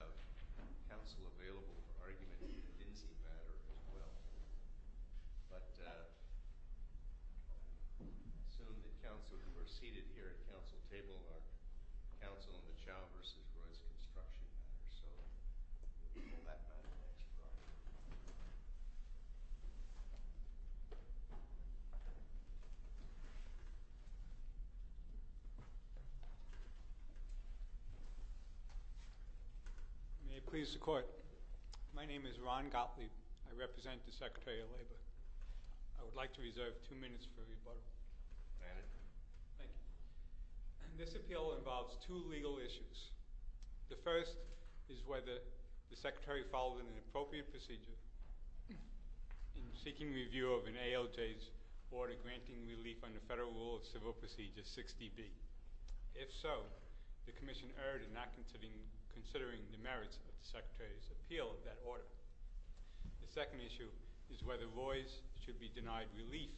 We have counsel available for argument on the Dinsey matter as well, but I assume that counsel who are seated here at counsel table are counsel on the Chao v. Rays construction matter, so we'll move that by the next row. May it please the court. My name is Ron Gottlieb. I represent the Secretary of Labor. I would like to reserve two minutes for rebuttal. Thank you. This appeal involves two legal issues. The first is whether the Secretary followed an appropriate procedure in seeking review of an ALJ's order granting relief under Federal Rule of Civil Procedure 60B. If so, the commission erred in not considering the merits of the Secretary's appeal of that order. The second issue is whether Roy's should be denied relief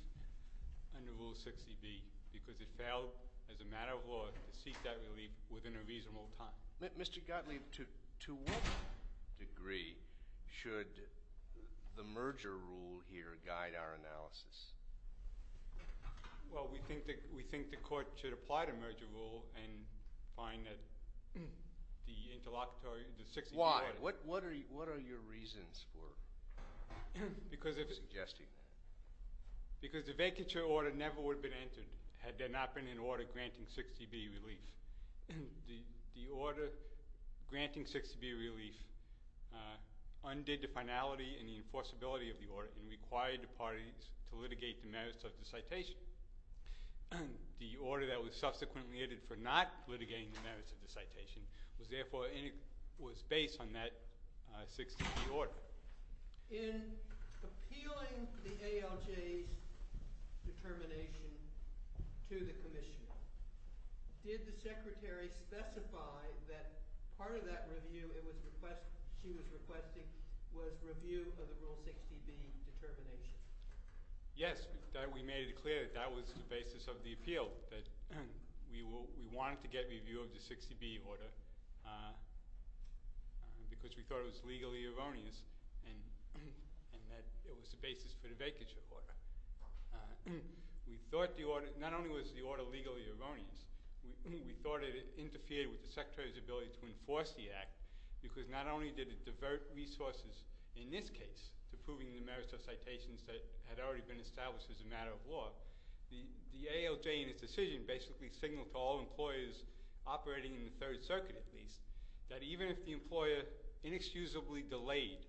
under Rule 60B because it failed as a matter of law to seek that relief within a reasonable time. Mr. Gottlieb, to what degree should the merger rule here guide our analysis? Well, we think the court should apply the merger rule and find that the interlocutory— Why? What are your reasons for suggesting that? Because the vacature order never would have been entered had there not been an order granting 60B relief. The order granting 60B relief undid the finality and the enforceability of the order and required the parties to litigate the merits of the citation. The order that was subsequently entered for not litigating the merits of the citation was therefore—was based on that 60B order. In appealing the ALJ's determination to the commission, did the Secretary specify that part of that review it was—she was requesting was review of the Rule 60B determination? Yes, we made it clear that that was the basis of the appeal, that we wanted to get review of the 60B order because we thought it was legally erroneous. And that it was the basis for the vacature order. We thought the order—not only was the order legally erroneous, we thought it interfered with the Secretary's ability to enforce the act because not only did it divert resources in this case to proving the merits of citations that had already been established as a matter of law, the ALJ in its decision basically signaled to all employers operating in the Third Circuit at least that even if the employer inexcusably delayed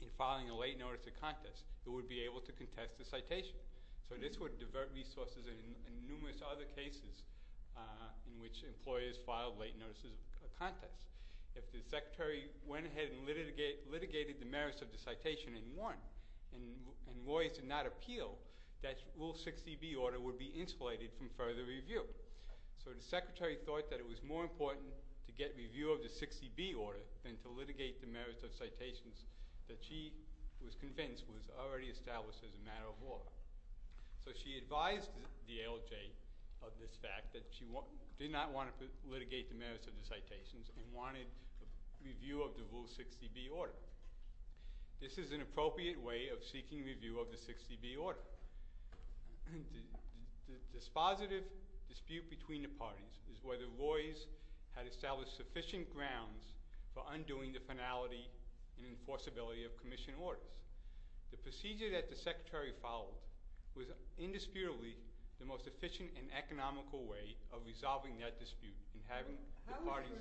in filing a late notice of contest, it would be able to contest the citation. So this would divert resources in numerous other cases in which employers filed late notices of contest. If the Secretary went ahead and litigated the merits of the citation and won and lawyers did not appeal, that Rule 60B order would be insulated from further review. So the Secretary thought that it was more important to get review of the 60B order than to litigate the merits of citations that she was convinced was already established as a matter of law. So she advised the ALJ of this fact that she did not want to litigate the merits of the citations and wanted review of the Rule 60B order. This is an appropriate way of seeking review of the 60B order. The dispositive dispute between the parties is whether lawyers had established sufficient grounds for undoing the finality and enforceability of commission orders. The procedure that the Secretary followed was indisputably the most efficient and economical way of resolving that dispute in having the parties –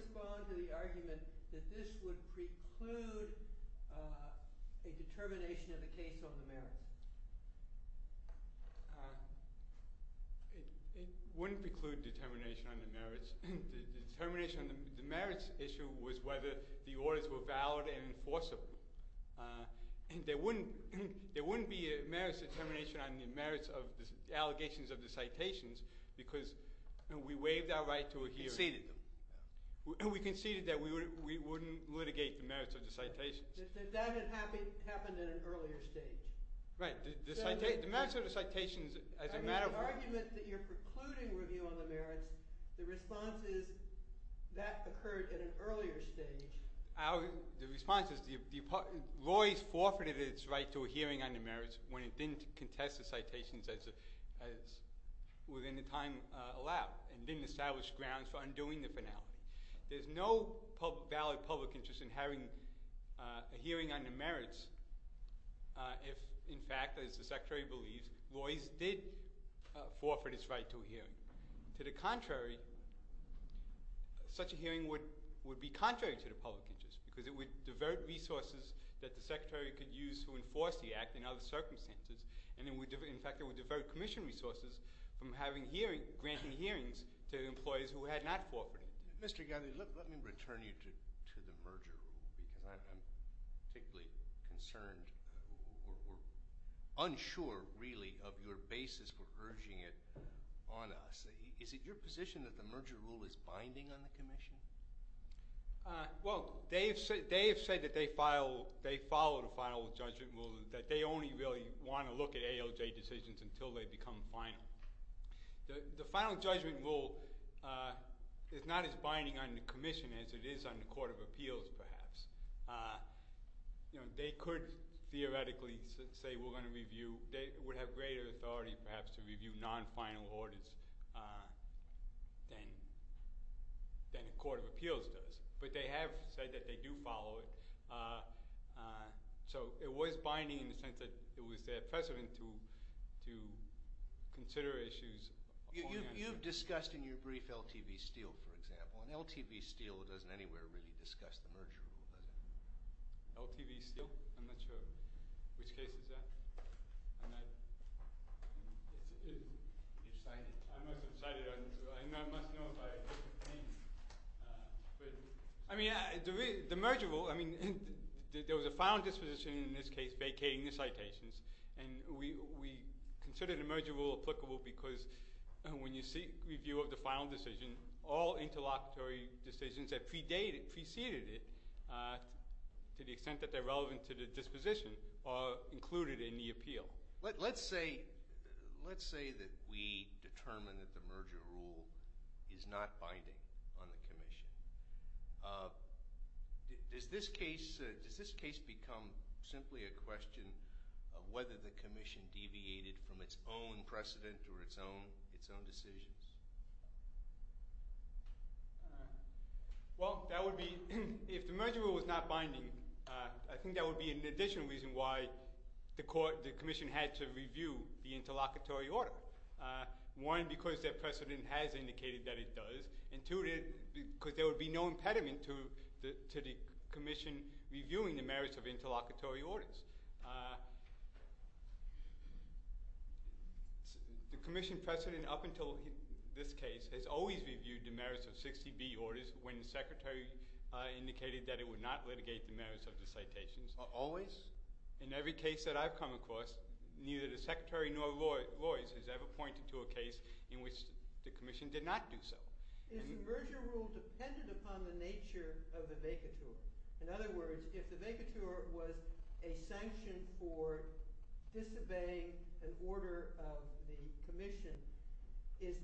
It wouldn't preclude determination on the merits. The merits issue was whether the orders were valid and enforceable. There wouldn't be a merits determination on the merits of the allegations of the citations because we waived our right to a hearing. We conceded that we wouldn't litigate the merits of the citations. That had happened at an earlier stage. Right. The merits of the citations, as a matter of – I mean the argument that you're precluding review on the merits, the response is that occurred at an earlier stage. The response is the lawyers forfeited its right to a hearing on the merits when it didn't contest the citations as within the time allowed and didn't establish grounds for undoing the finality. There's no valid public interest in having a hearing on the merits if, in fact, as the Secretary believes, lawyers did forfeit its right to a hearing. To the contrary, such a hearing would be contrary to the public interest because it would divert resources that the Secretary could use to enforce the Act in other circumstances. In fact, it would divert commission resources from having hearings – granting hearings to employees who had not forfeited. Mr. Galli, let me return you to the merger rule because I'm particularly concerned or unsure really of your basis for urging it on us. Is it your position that the merger rule is binding on the commission? Well, they have said that they follow the final judgment rule and that they only really want to look at ALJ decisions until they become final. The final judgment rule is not as binding on the commission as it is on the Court of Appeals perhaps. They could theoretically say we're going to review – they would have greater authority perhaps to review non-final orders than the Court of Appeals does. But they have said that they do follow it, so it was binding in the sense that it was their precedent to consider issues. You've discussed in your brief LTV Steele, for example, and LTV Steele doesn't anywhere really discuss the merger rule, does it? LTV Steele? I'm not sure. Which case is that? You've cited it. I must have cited it. I must know by name. I mean, the merger rule – I mean, there was a final disposition in this case vacating the citations, and we considered the merger rule applicable because when you seek review of the final decision, all interlocutory decisions that preceded it to the extent that they're relevant to the disposition are included in the appeal. Let's say that we determine that the merger rule is not binding on the commission. Does this case become simply a question of whether the commission deviated from its own precedent or its own decisions? Well, that would be – if the merger rule was not binding, I think that would be an additional reason why the commission had to review the interlocutory order. One, because their precedent has indicated that it does, and two, because there would be no impediment to the commission reviewing the merits of interlocutory orders. The commission precedent up until this case has always reviewed the merits of 60B orders when the secretary indicated that it would not litigate the merits of the citations. Always? Yes. In every case that I've come across, neither the secretary nor Lloyds has ever pointed to a case in which the commission did not do so. Is the merger rule dependent upon the nature of the vacatur? In other words, if the vacatur was a sanction for disobeying an order of the commission, is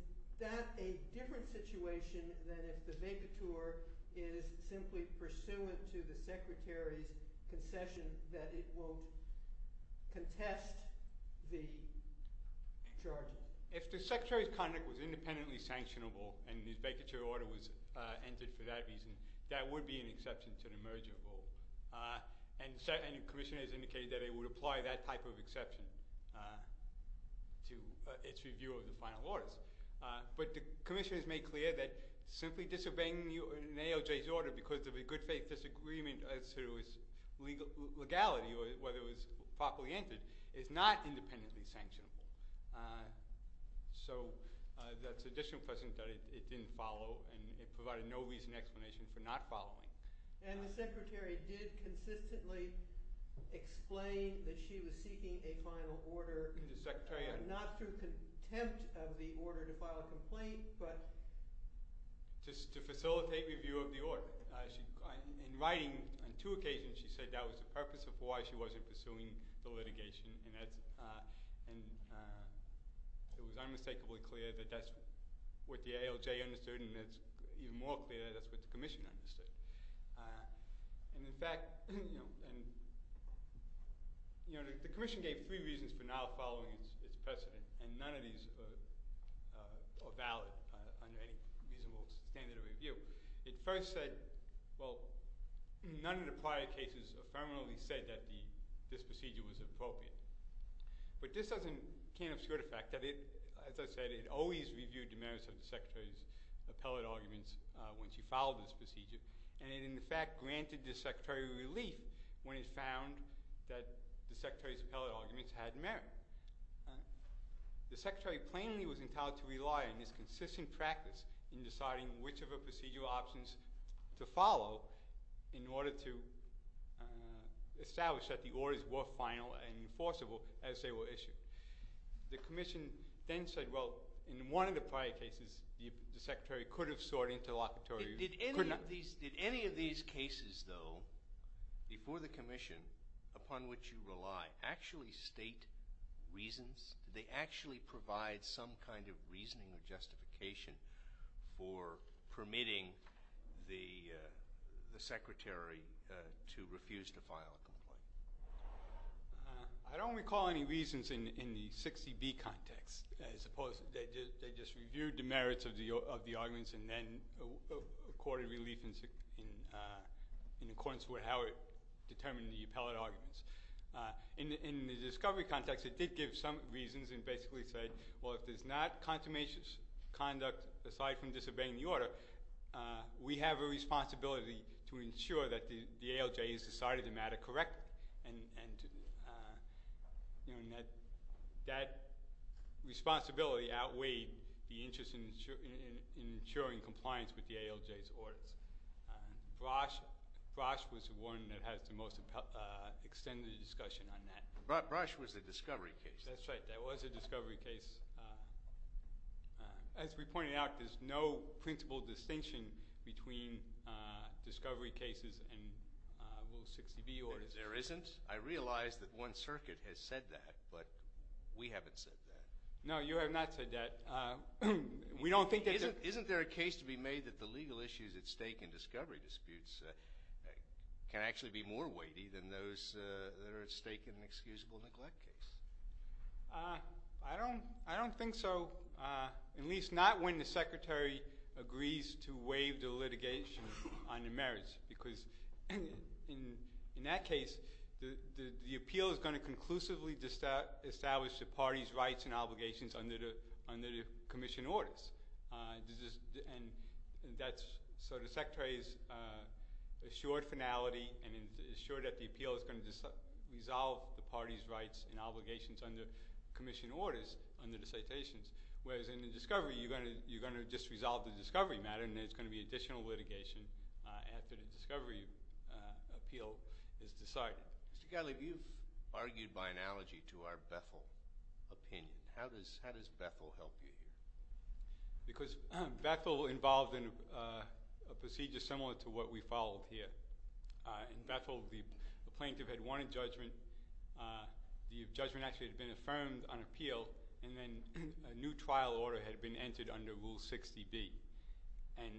that a different situation than if the vacatur is simply pursuant to the secretary's concession that it won't contest the charges? If the secretary's conduct was independently sanctionable and his vacatur order was entered for that reason, that would be an exception to the merger rule. And the commission has indicated that it would apply that type of exception to its review of the final orders. But the commission has made clear that simply disobeying an ALJ's order because of a good faith disagreement as to its legality, whether it was properly entered, is not independently sanctionable. So that's additional precedent that it didn't follow, and it provided no reason or explanation for not following. And the secretary did consistently explain that she was seeking a final order, not through contempt of the order to file a complaint, but just to facilitate review of the order. In writing, on two occasions she said that was the purpose of why she wasn't pursuing the litigation, and it was unmistakably clear that that's what the ALJ understood, and it's even more clear that that's what the commission understood. And in fact, you know, the commission gave three reasons for not following its precedent, and none of these are valid under any reasonable standard of review. It first said, well, none of the prior cases affirmatively said that this procedure was appropriate. But this doesn't – can't obscure the fact that it, as I said, it always reviewed the merits of the secretary's appellate arguments when she followed this procedure. And it, in fact, granted the secretary relief when it found that the secretary's appellate arguments had merit. The secretary plainly was entitled to rely on his consistent practice in deciding which of her procedural options to follow in order to establish that the orders were final and enforceable as they were issued. The commission then said, well, in one of the prior cases, the secretary could have sought interlocutory – Did any of these cases, though, before the commission, upon which you rely, actually state reasons? Did they actually provide some kind of reasoning or justification for permitting the secretary to refuse to file a complaint? I don't recall any reasons in the 60B context as opposed – they just reviewed the merits of the arguments and then accorded relief in accordance with how it determined the appellate arguments. In the discovery context, it did give some reasons and basically said, well, if there's not consummation conduct aside from disobeying the order, we have a responsibility to ensure that the ALJ has decided the matter correctly. And that responsibility outweighed the interest in ensuring compliance with the ALJ's orders. Brosh was the one that has the most extended discussion on that. Brosh was the discovery case. That's right. That was the discovery case. As we pointed out, there's no principle distinction between discovery cases and, well, 60B orders. There isn't? I realize that one circuit has said that, but we haven't said that. No, you have not said that. We don't think that – Isn't there a case to be made that the legal issues at stake in discovery disputes can actually be more weighty than those that are at stake in an excusable neglect case? I don't think so, at least not when the Secretary agrees to waive the litigation on the merits. Because in that case, the appeal is going to conclusively establish the party's rights and obligations under the commission orders. And that's – so the Secretary's assured finality and is assured that the appeal is going to resolve the party's rights and obligations under commission orders under the citations. Whereas in the discovery, you're going to just resolve the discovery matter, and there's going to be additional litigation after the discovery appeal is decided. Mr. Gottlieb, you've argued by analogy to our Bethel opinion. How does Bethel help you here? Because Bethel involved in a procedure similar to what we followed here. In Bethel, the plaintiff had won a judgment. The judgment actually had been affirmed on appeal, and then a new trial order had been entered under Rule 60B. And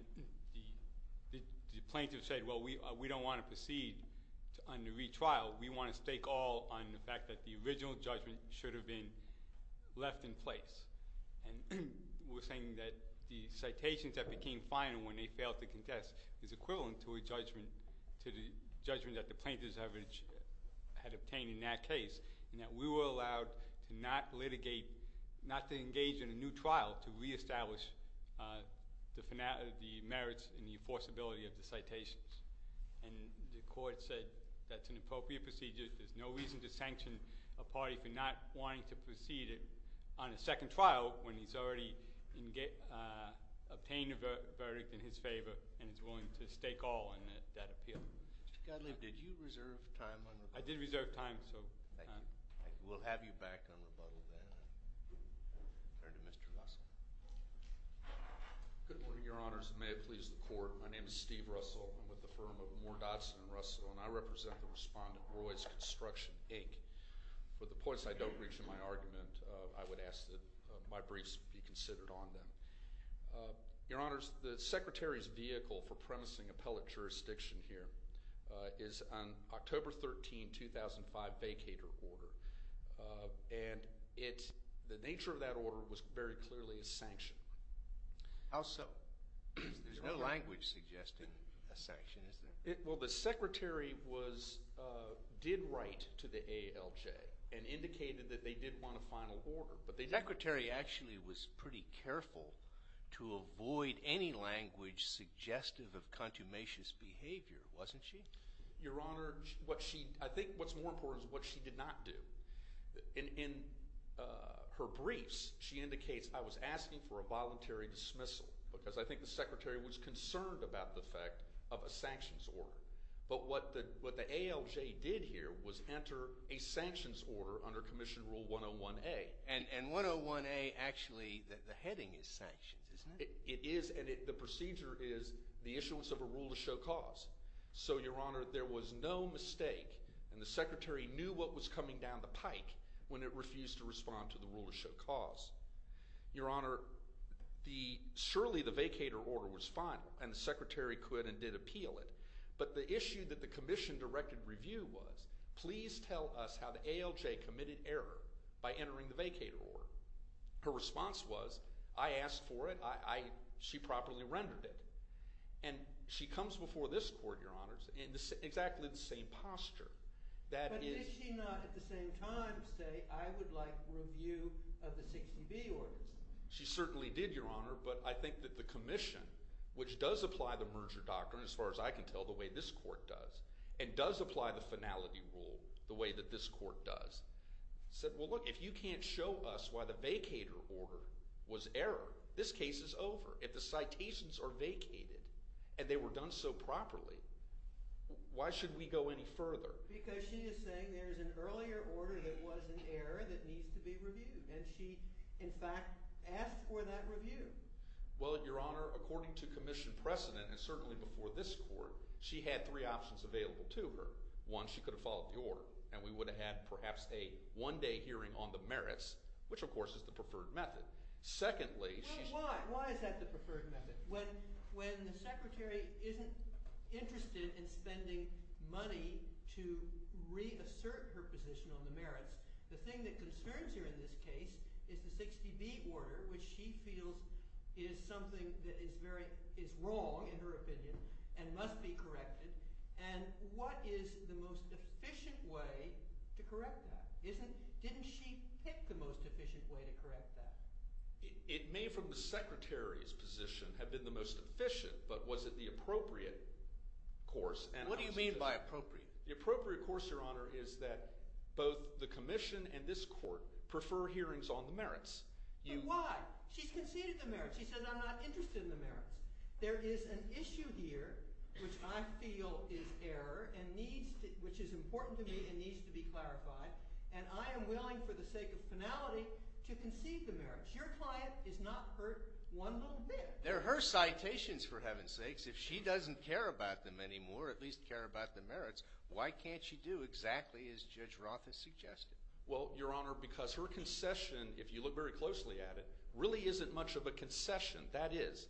the plaintiff said, well, we don't want to proceed under retrial. We want to stake all on the fact that the original judgment should have been left in place. And we're saying that the citations that became final when they failed to contest is equivalent to a judgment – to the judgment that the plaintiff's evidence had obtained in that case. And that we were allowed to not litigate – not to engage in a new trial to reestablish the merits and the enforceability of the citations. And the court said that's an appropriate procedure. There's no reason to sanction a party for not wanting to proceed on a second trial when he's already obtained a verdict in his favor and is willing to stake all on that appeal. Mr. Gottlieb, did you reserve time on rebuttal? I did reserve time, so – Thank you. We'll have you back on rebuttal then. Turn to Mr. Russell. Good morning, Your Honors, and may it please the Court. My name is Steve Russell. I'm with the firm of Moore, Dodson & Russell, and I represent the respondent, Roy's Construction, Inc. For the points I don't reach in my argument, I would ask that my briefs be considered on them. Your Honors, the Secretary's vehicle for premising appellate jurisdiction here is an October 13, 2005, vacator order. And it's – the nature of that order was very clearly a sanction. How so? There's no language suggesting a sanction, is there? Well, the Secretary was – did write to the ALJ and indicated that they did want a final order. But the Secretary actually was pretty careful to avoid any language suggestive of contumacious behavior, wasn't she? Your Honor, what she – I think what's more important is what she did not do. In her briefs, she indicates, I was asking for a voluntary dismissal because I think the Secretary was concerned about the fact of a sanctions order. But what the ALJ did here was enter a sanctions order under Commission Rule 101A. And 101A actually – the heading is sanctions, isn't it? It is, and the procedure is the issuance of a rule to show cause. So, Your Honor, there was no mistake, and the Secretary knew what was coming down the pike when it refused to respond to the rule to show cause. Your Honor, the – surely the vacator order was final, and the Secretary could and did appeal it. But the issue that the Commission directed review was, please tell us how the ALJ committed error by entering the vacator order. Her response was, I asked for it. She properly rendered it. And she comes before this court, Your Honor, in exactly the same posture. That is – But did she not at the same time say, I would like review of the 60B orders? She certainly did, Your Honor, but I think that the Commission, which does apply the merger doctrine, as far as I can tell, the way this court does, and does apply the finality rule the way that this court does, said, well, look, if you can't show us why the vacator order was error, this case is over. If the citations are vacated and they were done so properly, why should we go any further? Because she is saying there is an earlier order that was an error that needs to be reviewed. And she, in fact, asked for that review. Well, Your Honor, according to Commission precedent, and certainly before this court, she had three options available to her. One, she could have followed the order, and we would have had perhaps a one-day hearing on the merits, which of course is the preferred method. Secondly, she's – No, why? Why is that the preferred method? When the Secretary isn't interested in spending money to reassert her position on the merits, the thing that concerns her in this case is the 60B order, which she feels is something that is very – is wrong, in her opinion, and must be corrected. And what is the most efficient way to correct that? Didn't she pick the most efficient way to correct that? It may, from the Secretary's position, have been the most efficient, but was it the appropriate course? What do you mean by appropriate? The appropriate course, Your Honor, is that both the Commission and this court prefer hearings on the merits. But why? She's conceded the merits. She says, I'm not interested in the merits. There is an issue here which I feel is error and needs – which is important to me and needs to be clarified, and I am willing for the sake of finality to concede the merits. Your client is not hurt one little bit. They're her citations, for heaven's sakes. If she doesn't care about them anymore, or at least care about the merits, why can't she do exactly as Judge Roth has suggested? Well, Your Honor, because her concession, if you look very closely at it, really isn't much of a concession. That is,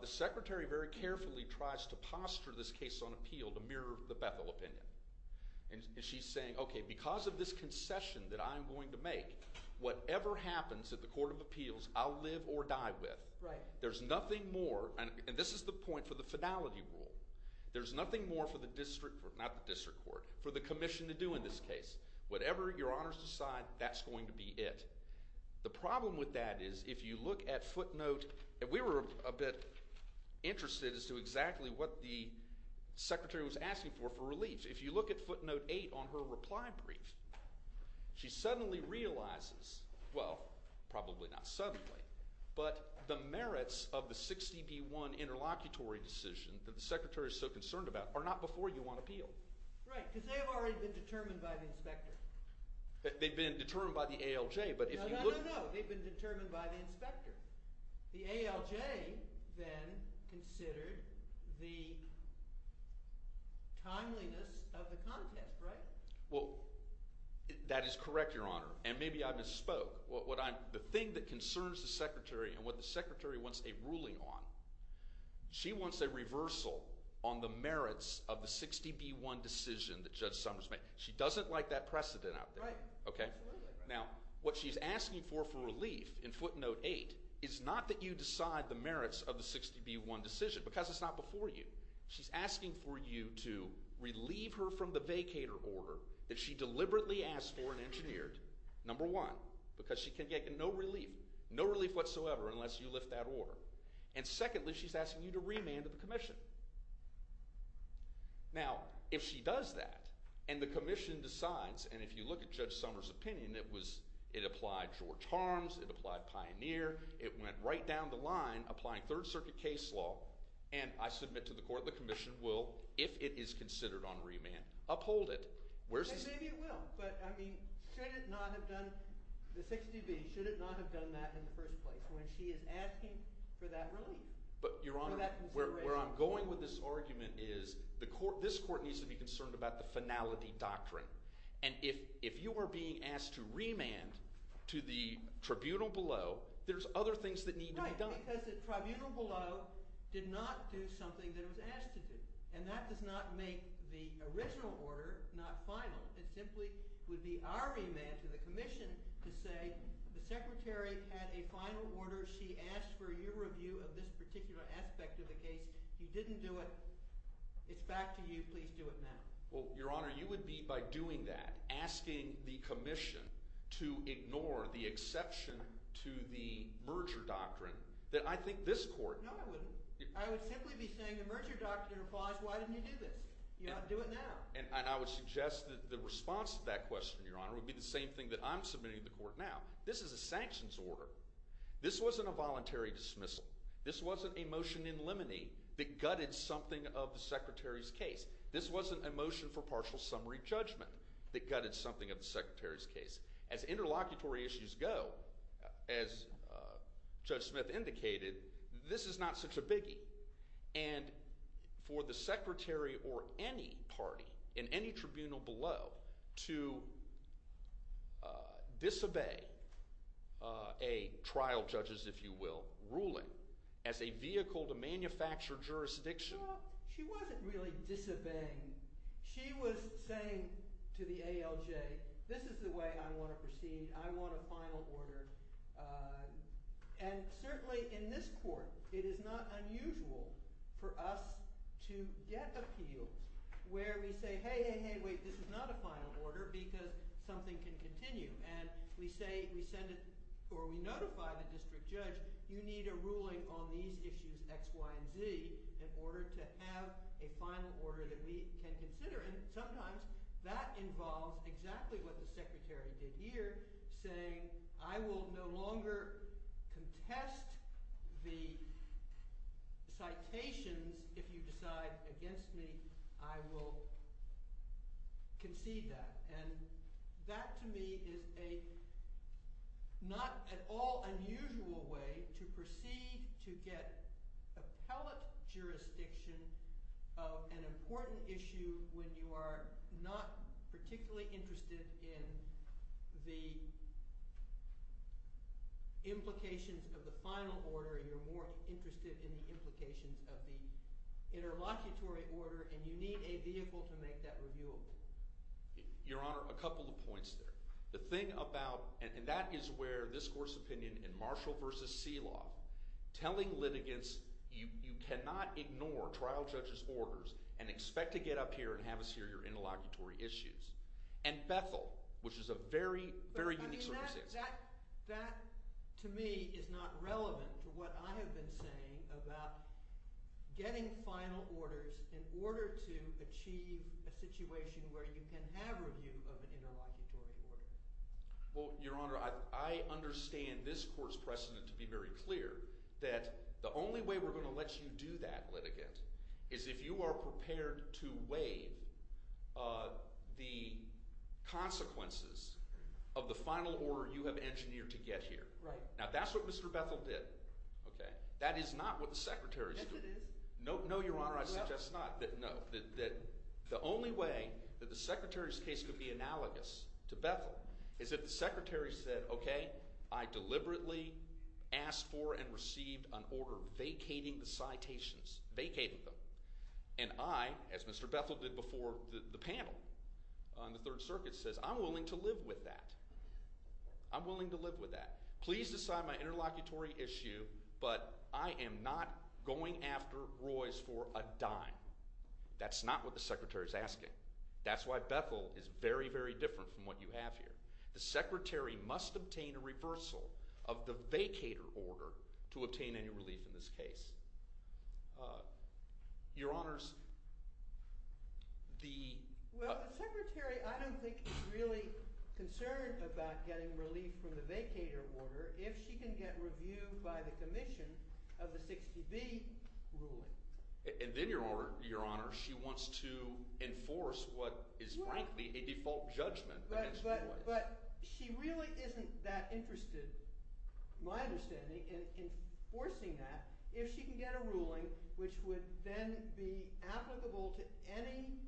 the Secretary very carefully tries to posture this case on appeal to mirror the Bethel opinion. And she's saying, okay, because of this concession that I'm going to make, whatever happens at the Court of Appeals, I'll live or die with. There's nothing more – and this is the point for the finality rule. There's nothing more for the District – not the District Court – for the Commission to do in this case. Whatever Your Honor's decide, that's going to be it. The problem with that is if you look at footnote – and we were a bit interested as to exactly what the Secretary was asking for for relief. If you look at footnote 8 on her reply brief, she suddenly realizes – well, probably not suddenly, but the merits of the 60B1 interlocutory decision that the Secretary is so concerned about are not before you on appeal. Right, because they've already been determined by the inspector. They've been determined by the ALJ, but if you look – No, no, no, no. They've been determined by the inspector. The ALJ then considered the timeliness of the contest, right? Well, that is correct, Your Honor, and maybe I misspoke. The thing that concerns the Secretary and what the Secretary wants a ruling on, she wants a reversal on the merits of the 60B1 decision that Judge Summers made. She doesn't like that precedent out there. Right, absolutely. Now, what she's asking for for relief in footnote 8 is not that you decide the merits of the 60B1 decision because it's not before you. She's asking for you to relieve her from the vacator order that she deliberately asked for and engineered, number one, because she can get no relief, no relief whatsoever unless you lift that order. And secondly, she's asking you to remand the commission. Now, if she does that and the commission decides – and if you look at Judge Summers' opinion, it was – it applied George Harms. It applied Pioneer. It went right down the line applying Third Circuit case law, and I submit to the court, the commission will, if it is considered on remand, uphold it. Maybe it will, but, I mean, should it not have done – the 60B, should it not have done that in the first place when she is asking for that relief? But, Your Honor, where I'm going with this argument is the court – this court needs to be concerned about the finality doctrine. And if you are being asked to remand to the tribunal below, there's other things that need to be done. Right, because the tribunal below did not do something that it was asked to do, and that does not make the original order not final. It simply would be our remand to the commission to say the secretary had a final order. She asked for your review of this particular aspect of the case. You didn't do it. It's back to you. Please do it now. Well, Your Honor, you would be, by doing that, asking the commission to ignore the exception to the merger doctrine that I think this court – No, I wouldn't. I would simply be saying the merger doctrine applies. Why didn't you do this? You ought to do it now. And I would suggest that the response to that question, Your Honor, would be the same thing that I'm submitting to the court now. This is a sanctions order. This wasn't a voluntary dismissal. This wasn't a motion in limine that gutted something of the secretary's case. This wasn't a motion for partial summary judgment that gutted something of the secretary's case. As interlocutory issues go, as Judge Smith indicated, this is not such a biggie. And for the secretary or any party in any tribunal below to disobey a trial judge's, if you will, ruling as a vehicle to manufacture jurisdiction – Well, she wasn't really disobeying. She was saying to the ALJ, this is the way I want to proceed. I want a final order. And certainly in this court it is not unusual for us to get appeals where we say, hey, hey, hey, wait. This is not a final order because something can continue. And we say – we send a – or we notify the district judge, you need a ruling on these issues X, Y, and Z in order to have a final order that we can consider. And sometimes that involves exactly what the secretary did here, saying I will no longer contest the citations if you decide against me. I will concede that. And that to me is a not at all unusual way to proceed to get appellate jurisdiction of an important issue when you are not particularly interested in the implications of the final order. You're more interested in the implications of the interlocutory order, and you need a vehicle to make that reviewable. Your Honor, a couple of points there. The thing about – and that is where this court's opinion in Marshall v. Seloff telling litigants you cannot ignore trial judge's orders and expect to get up here and have us hear your interlocutory issues. And Bethel, which is a very, very unique circumstance. That to me is not relevant to what I have been saying about getting final orders in order to achieve a situation where you can have review of an interlocutory order. Well, Your Honor, I understand this court's precedent to be very clear that the only way we're going to let you do that, litigant, is if you are prepared to waive the consequences of the final order you have engineered to get here. Right. Now, that's what Mr. Bethel did. Okay? That is not what the secretary's doing. Yes, it is. No, Your Honor, I suggest not. No. The only way that the secretary's case could be analogous to Bethel is if the secretary said, okay, I deliberately asked for and received an order vacating the citations, vacated them. And I, as Mr. Bethel did before the panel on the Third Circuit, says I'm willing to live with that. I'm willing to live with that. Please decide my interlocutory issue, but I am not going after Royce for a dime. That's not what the secretary's asking. That's why Bethel is very, very different from what you have here. The secretary must obtain a reversal of the vacator order to obtain any relief in this case. Your Honors, the— And then, Your Honor, she wants to enforce what is, frankly, a default judgment against Royce. But she really isn't that interested, my understanding, in enforcing that if she can get a ruling which would then be applicable to any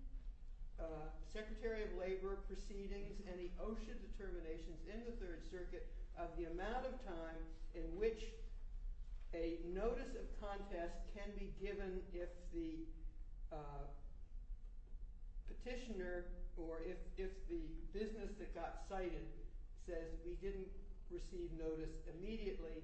secretary of labor proceedings, any OSHA determinations in the Third Circuit of the amount of time in which a notice of contest can be given if the petitioner or if the business that got cited says we didn't receive notice immediately,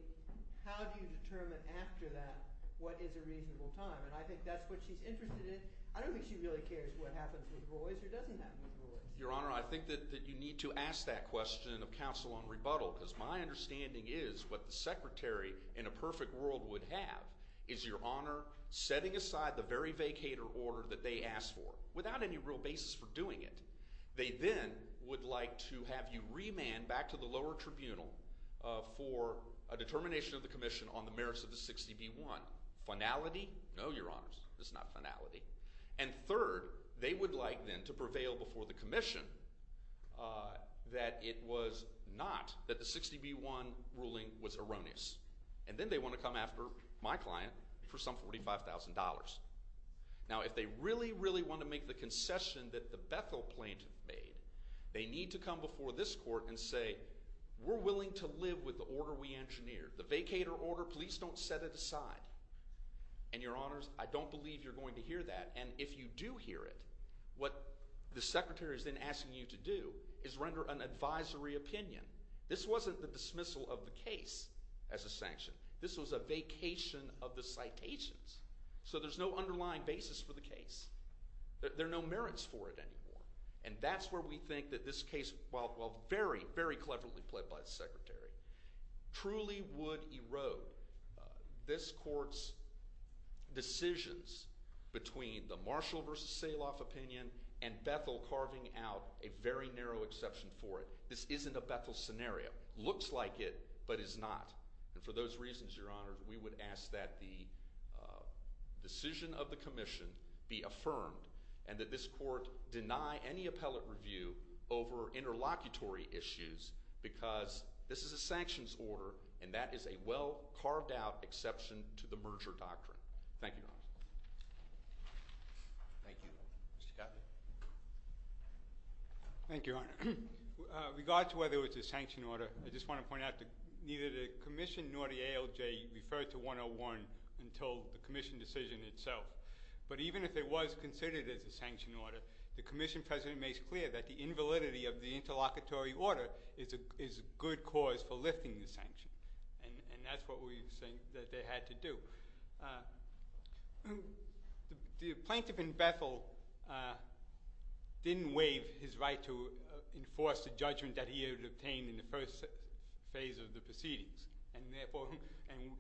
how do you determine after that what is a reasonable time? And I think that's what she's interested in. I don't think she really cares what happens with Royce or doesn't happen with Royce. Your Honor, I think that you need to ask that question of counsel on rebuttal because my understanding is what the secretary in a perfect world would have is, Your Honor, setting aside the very vacator order that they asked for without any real basis for doing it. They then would like to have you remand back to the lower tribunal for a determination of the commission on the merits of the 60B1. Finality? No, Your Honors. It's not finality. And third, they would like then to prevail before the commission that it was not, that the 60B1 ruling was erroneous. And then they want to come after my client for some $45,000. Now, if they really, really want to make the concession that the Bethel plaintiff made, they need to come before this court and say, we're willing to live with the order we engineered. The vacator order, please don't set it aside. And, Your Honors, I don't believe you're going to hear that. And if you do hear it, what the secretary is then asking you to do is render an advisory opinion. This wasn't the dismissal of the case as a sanction. This was a vacation of the citations. So there's no underlying basis for the case. There are no merits for it anymore. And that's where we think that this case, while very, very cleverly played by the secretary, truly would erode this court's decisions between the Marshall v. Saloff opinion and Bethel carving out a very narrow exception for it. This isn't a Bethel scenario. Looks like it, but is not. And for those reasons, Your Honors, we would ask that the decision of the commission be affirmed and that this court deny any appellate review over interlocutory issues because this is a sanctions order, and that is a well carved out exception to the merger doctrine. Thank you, Your Honors. Thank you. Mr. Gottlieb. Thank you, Your Honor. With regard to whether it was a sanction order, I just want to point out that neither the commission nor the ALJ referred to 101 until the commission decision itself. But even if it was considered as a sanction order, the commission president makes clear that the invalidity of the interlocutory order is a good cause for lifting the sanction. And that's what we think that they had to do. The plaintiff in Bethel didn't waive his right to enforce the judgment that he had obtained in the first phase of the proceedings. And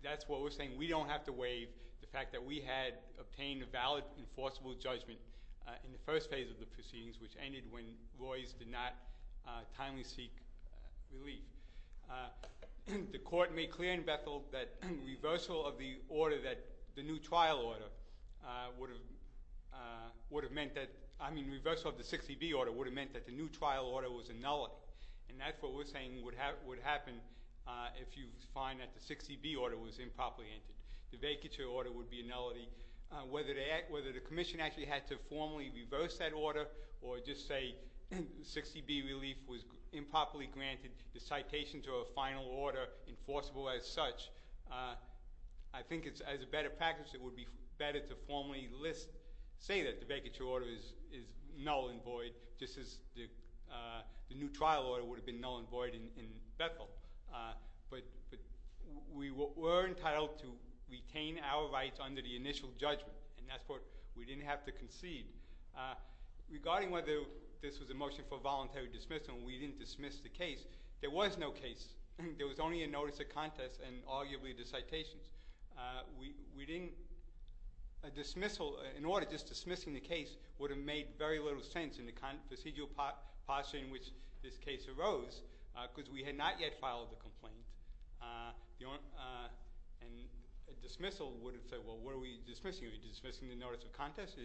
that's what we're saying. We don't have to waive the fact that we had obtained a valid enforceable judgment in the first phase of the proceedings, which ended when Roys did not timely seek relief. The court made clear in Bethel that reversal of the order that the new trial order would have meant that – I mean reversal of the 60B order would have meant that the new trial order was a nullity. And that's what we're saying would happen if you find that the 60B order was improperly entered. The vacature order would be a nullity. Whether the commission actually had to formally reverse that order or just say 60B relief was improperly granted, the citation to a final order enforceable as such, I think it's – as a better practice, it would be better to formally list – say that the vacature order is null and void just as the new trial order would have been null and void in Bethel. But we were entitled to retain our rights under the initial judgment, and that's what we didn't have to concede. Regarding whether this was a motion for voluntary dismissal, we didn't dismiss the case. There was no case. There was only a notice of contest and arguably the citations. We didn't – a dismissal – an order just dismissing the case would have made very little sense in the procedural posture in which this case arose because we had not yet filed the complaint, and a dismissal would have said, well, what are we dismissing? Are we dismissing the notice of contest?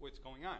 What's going on?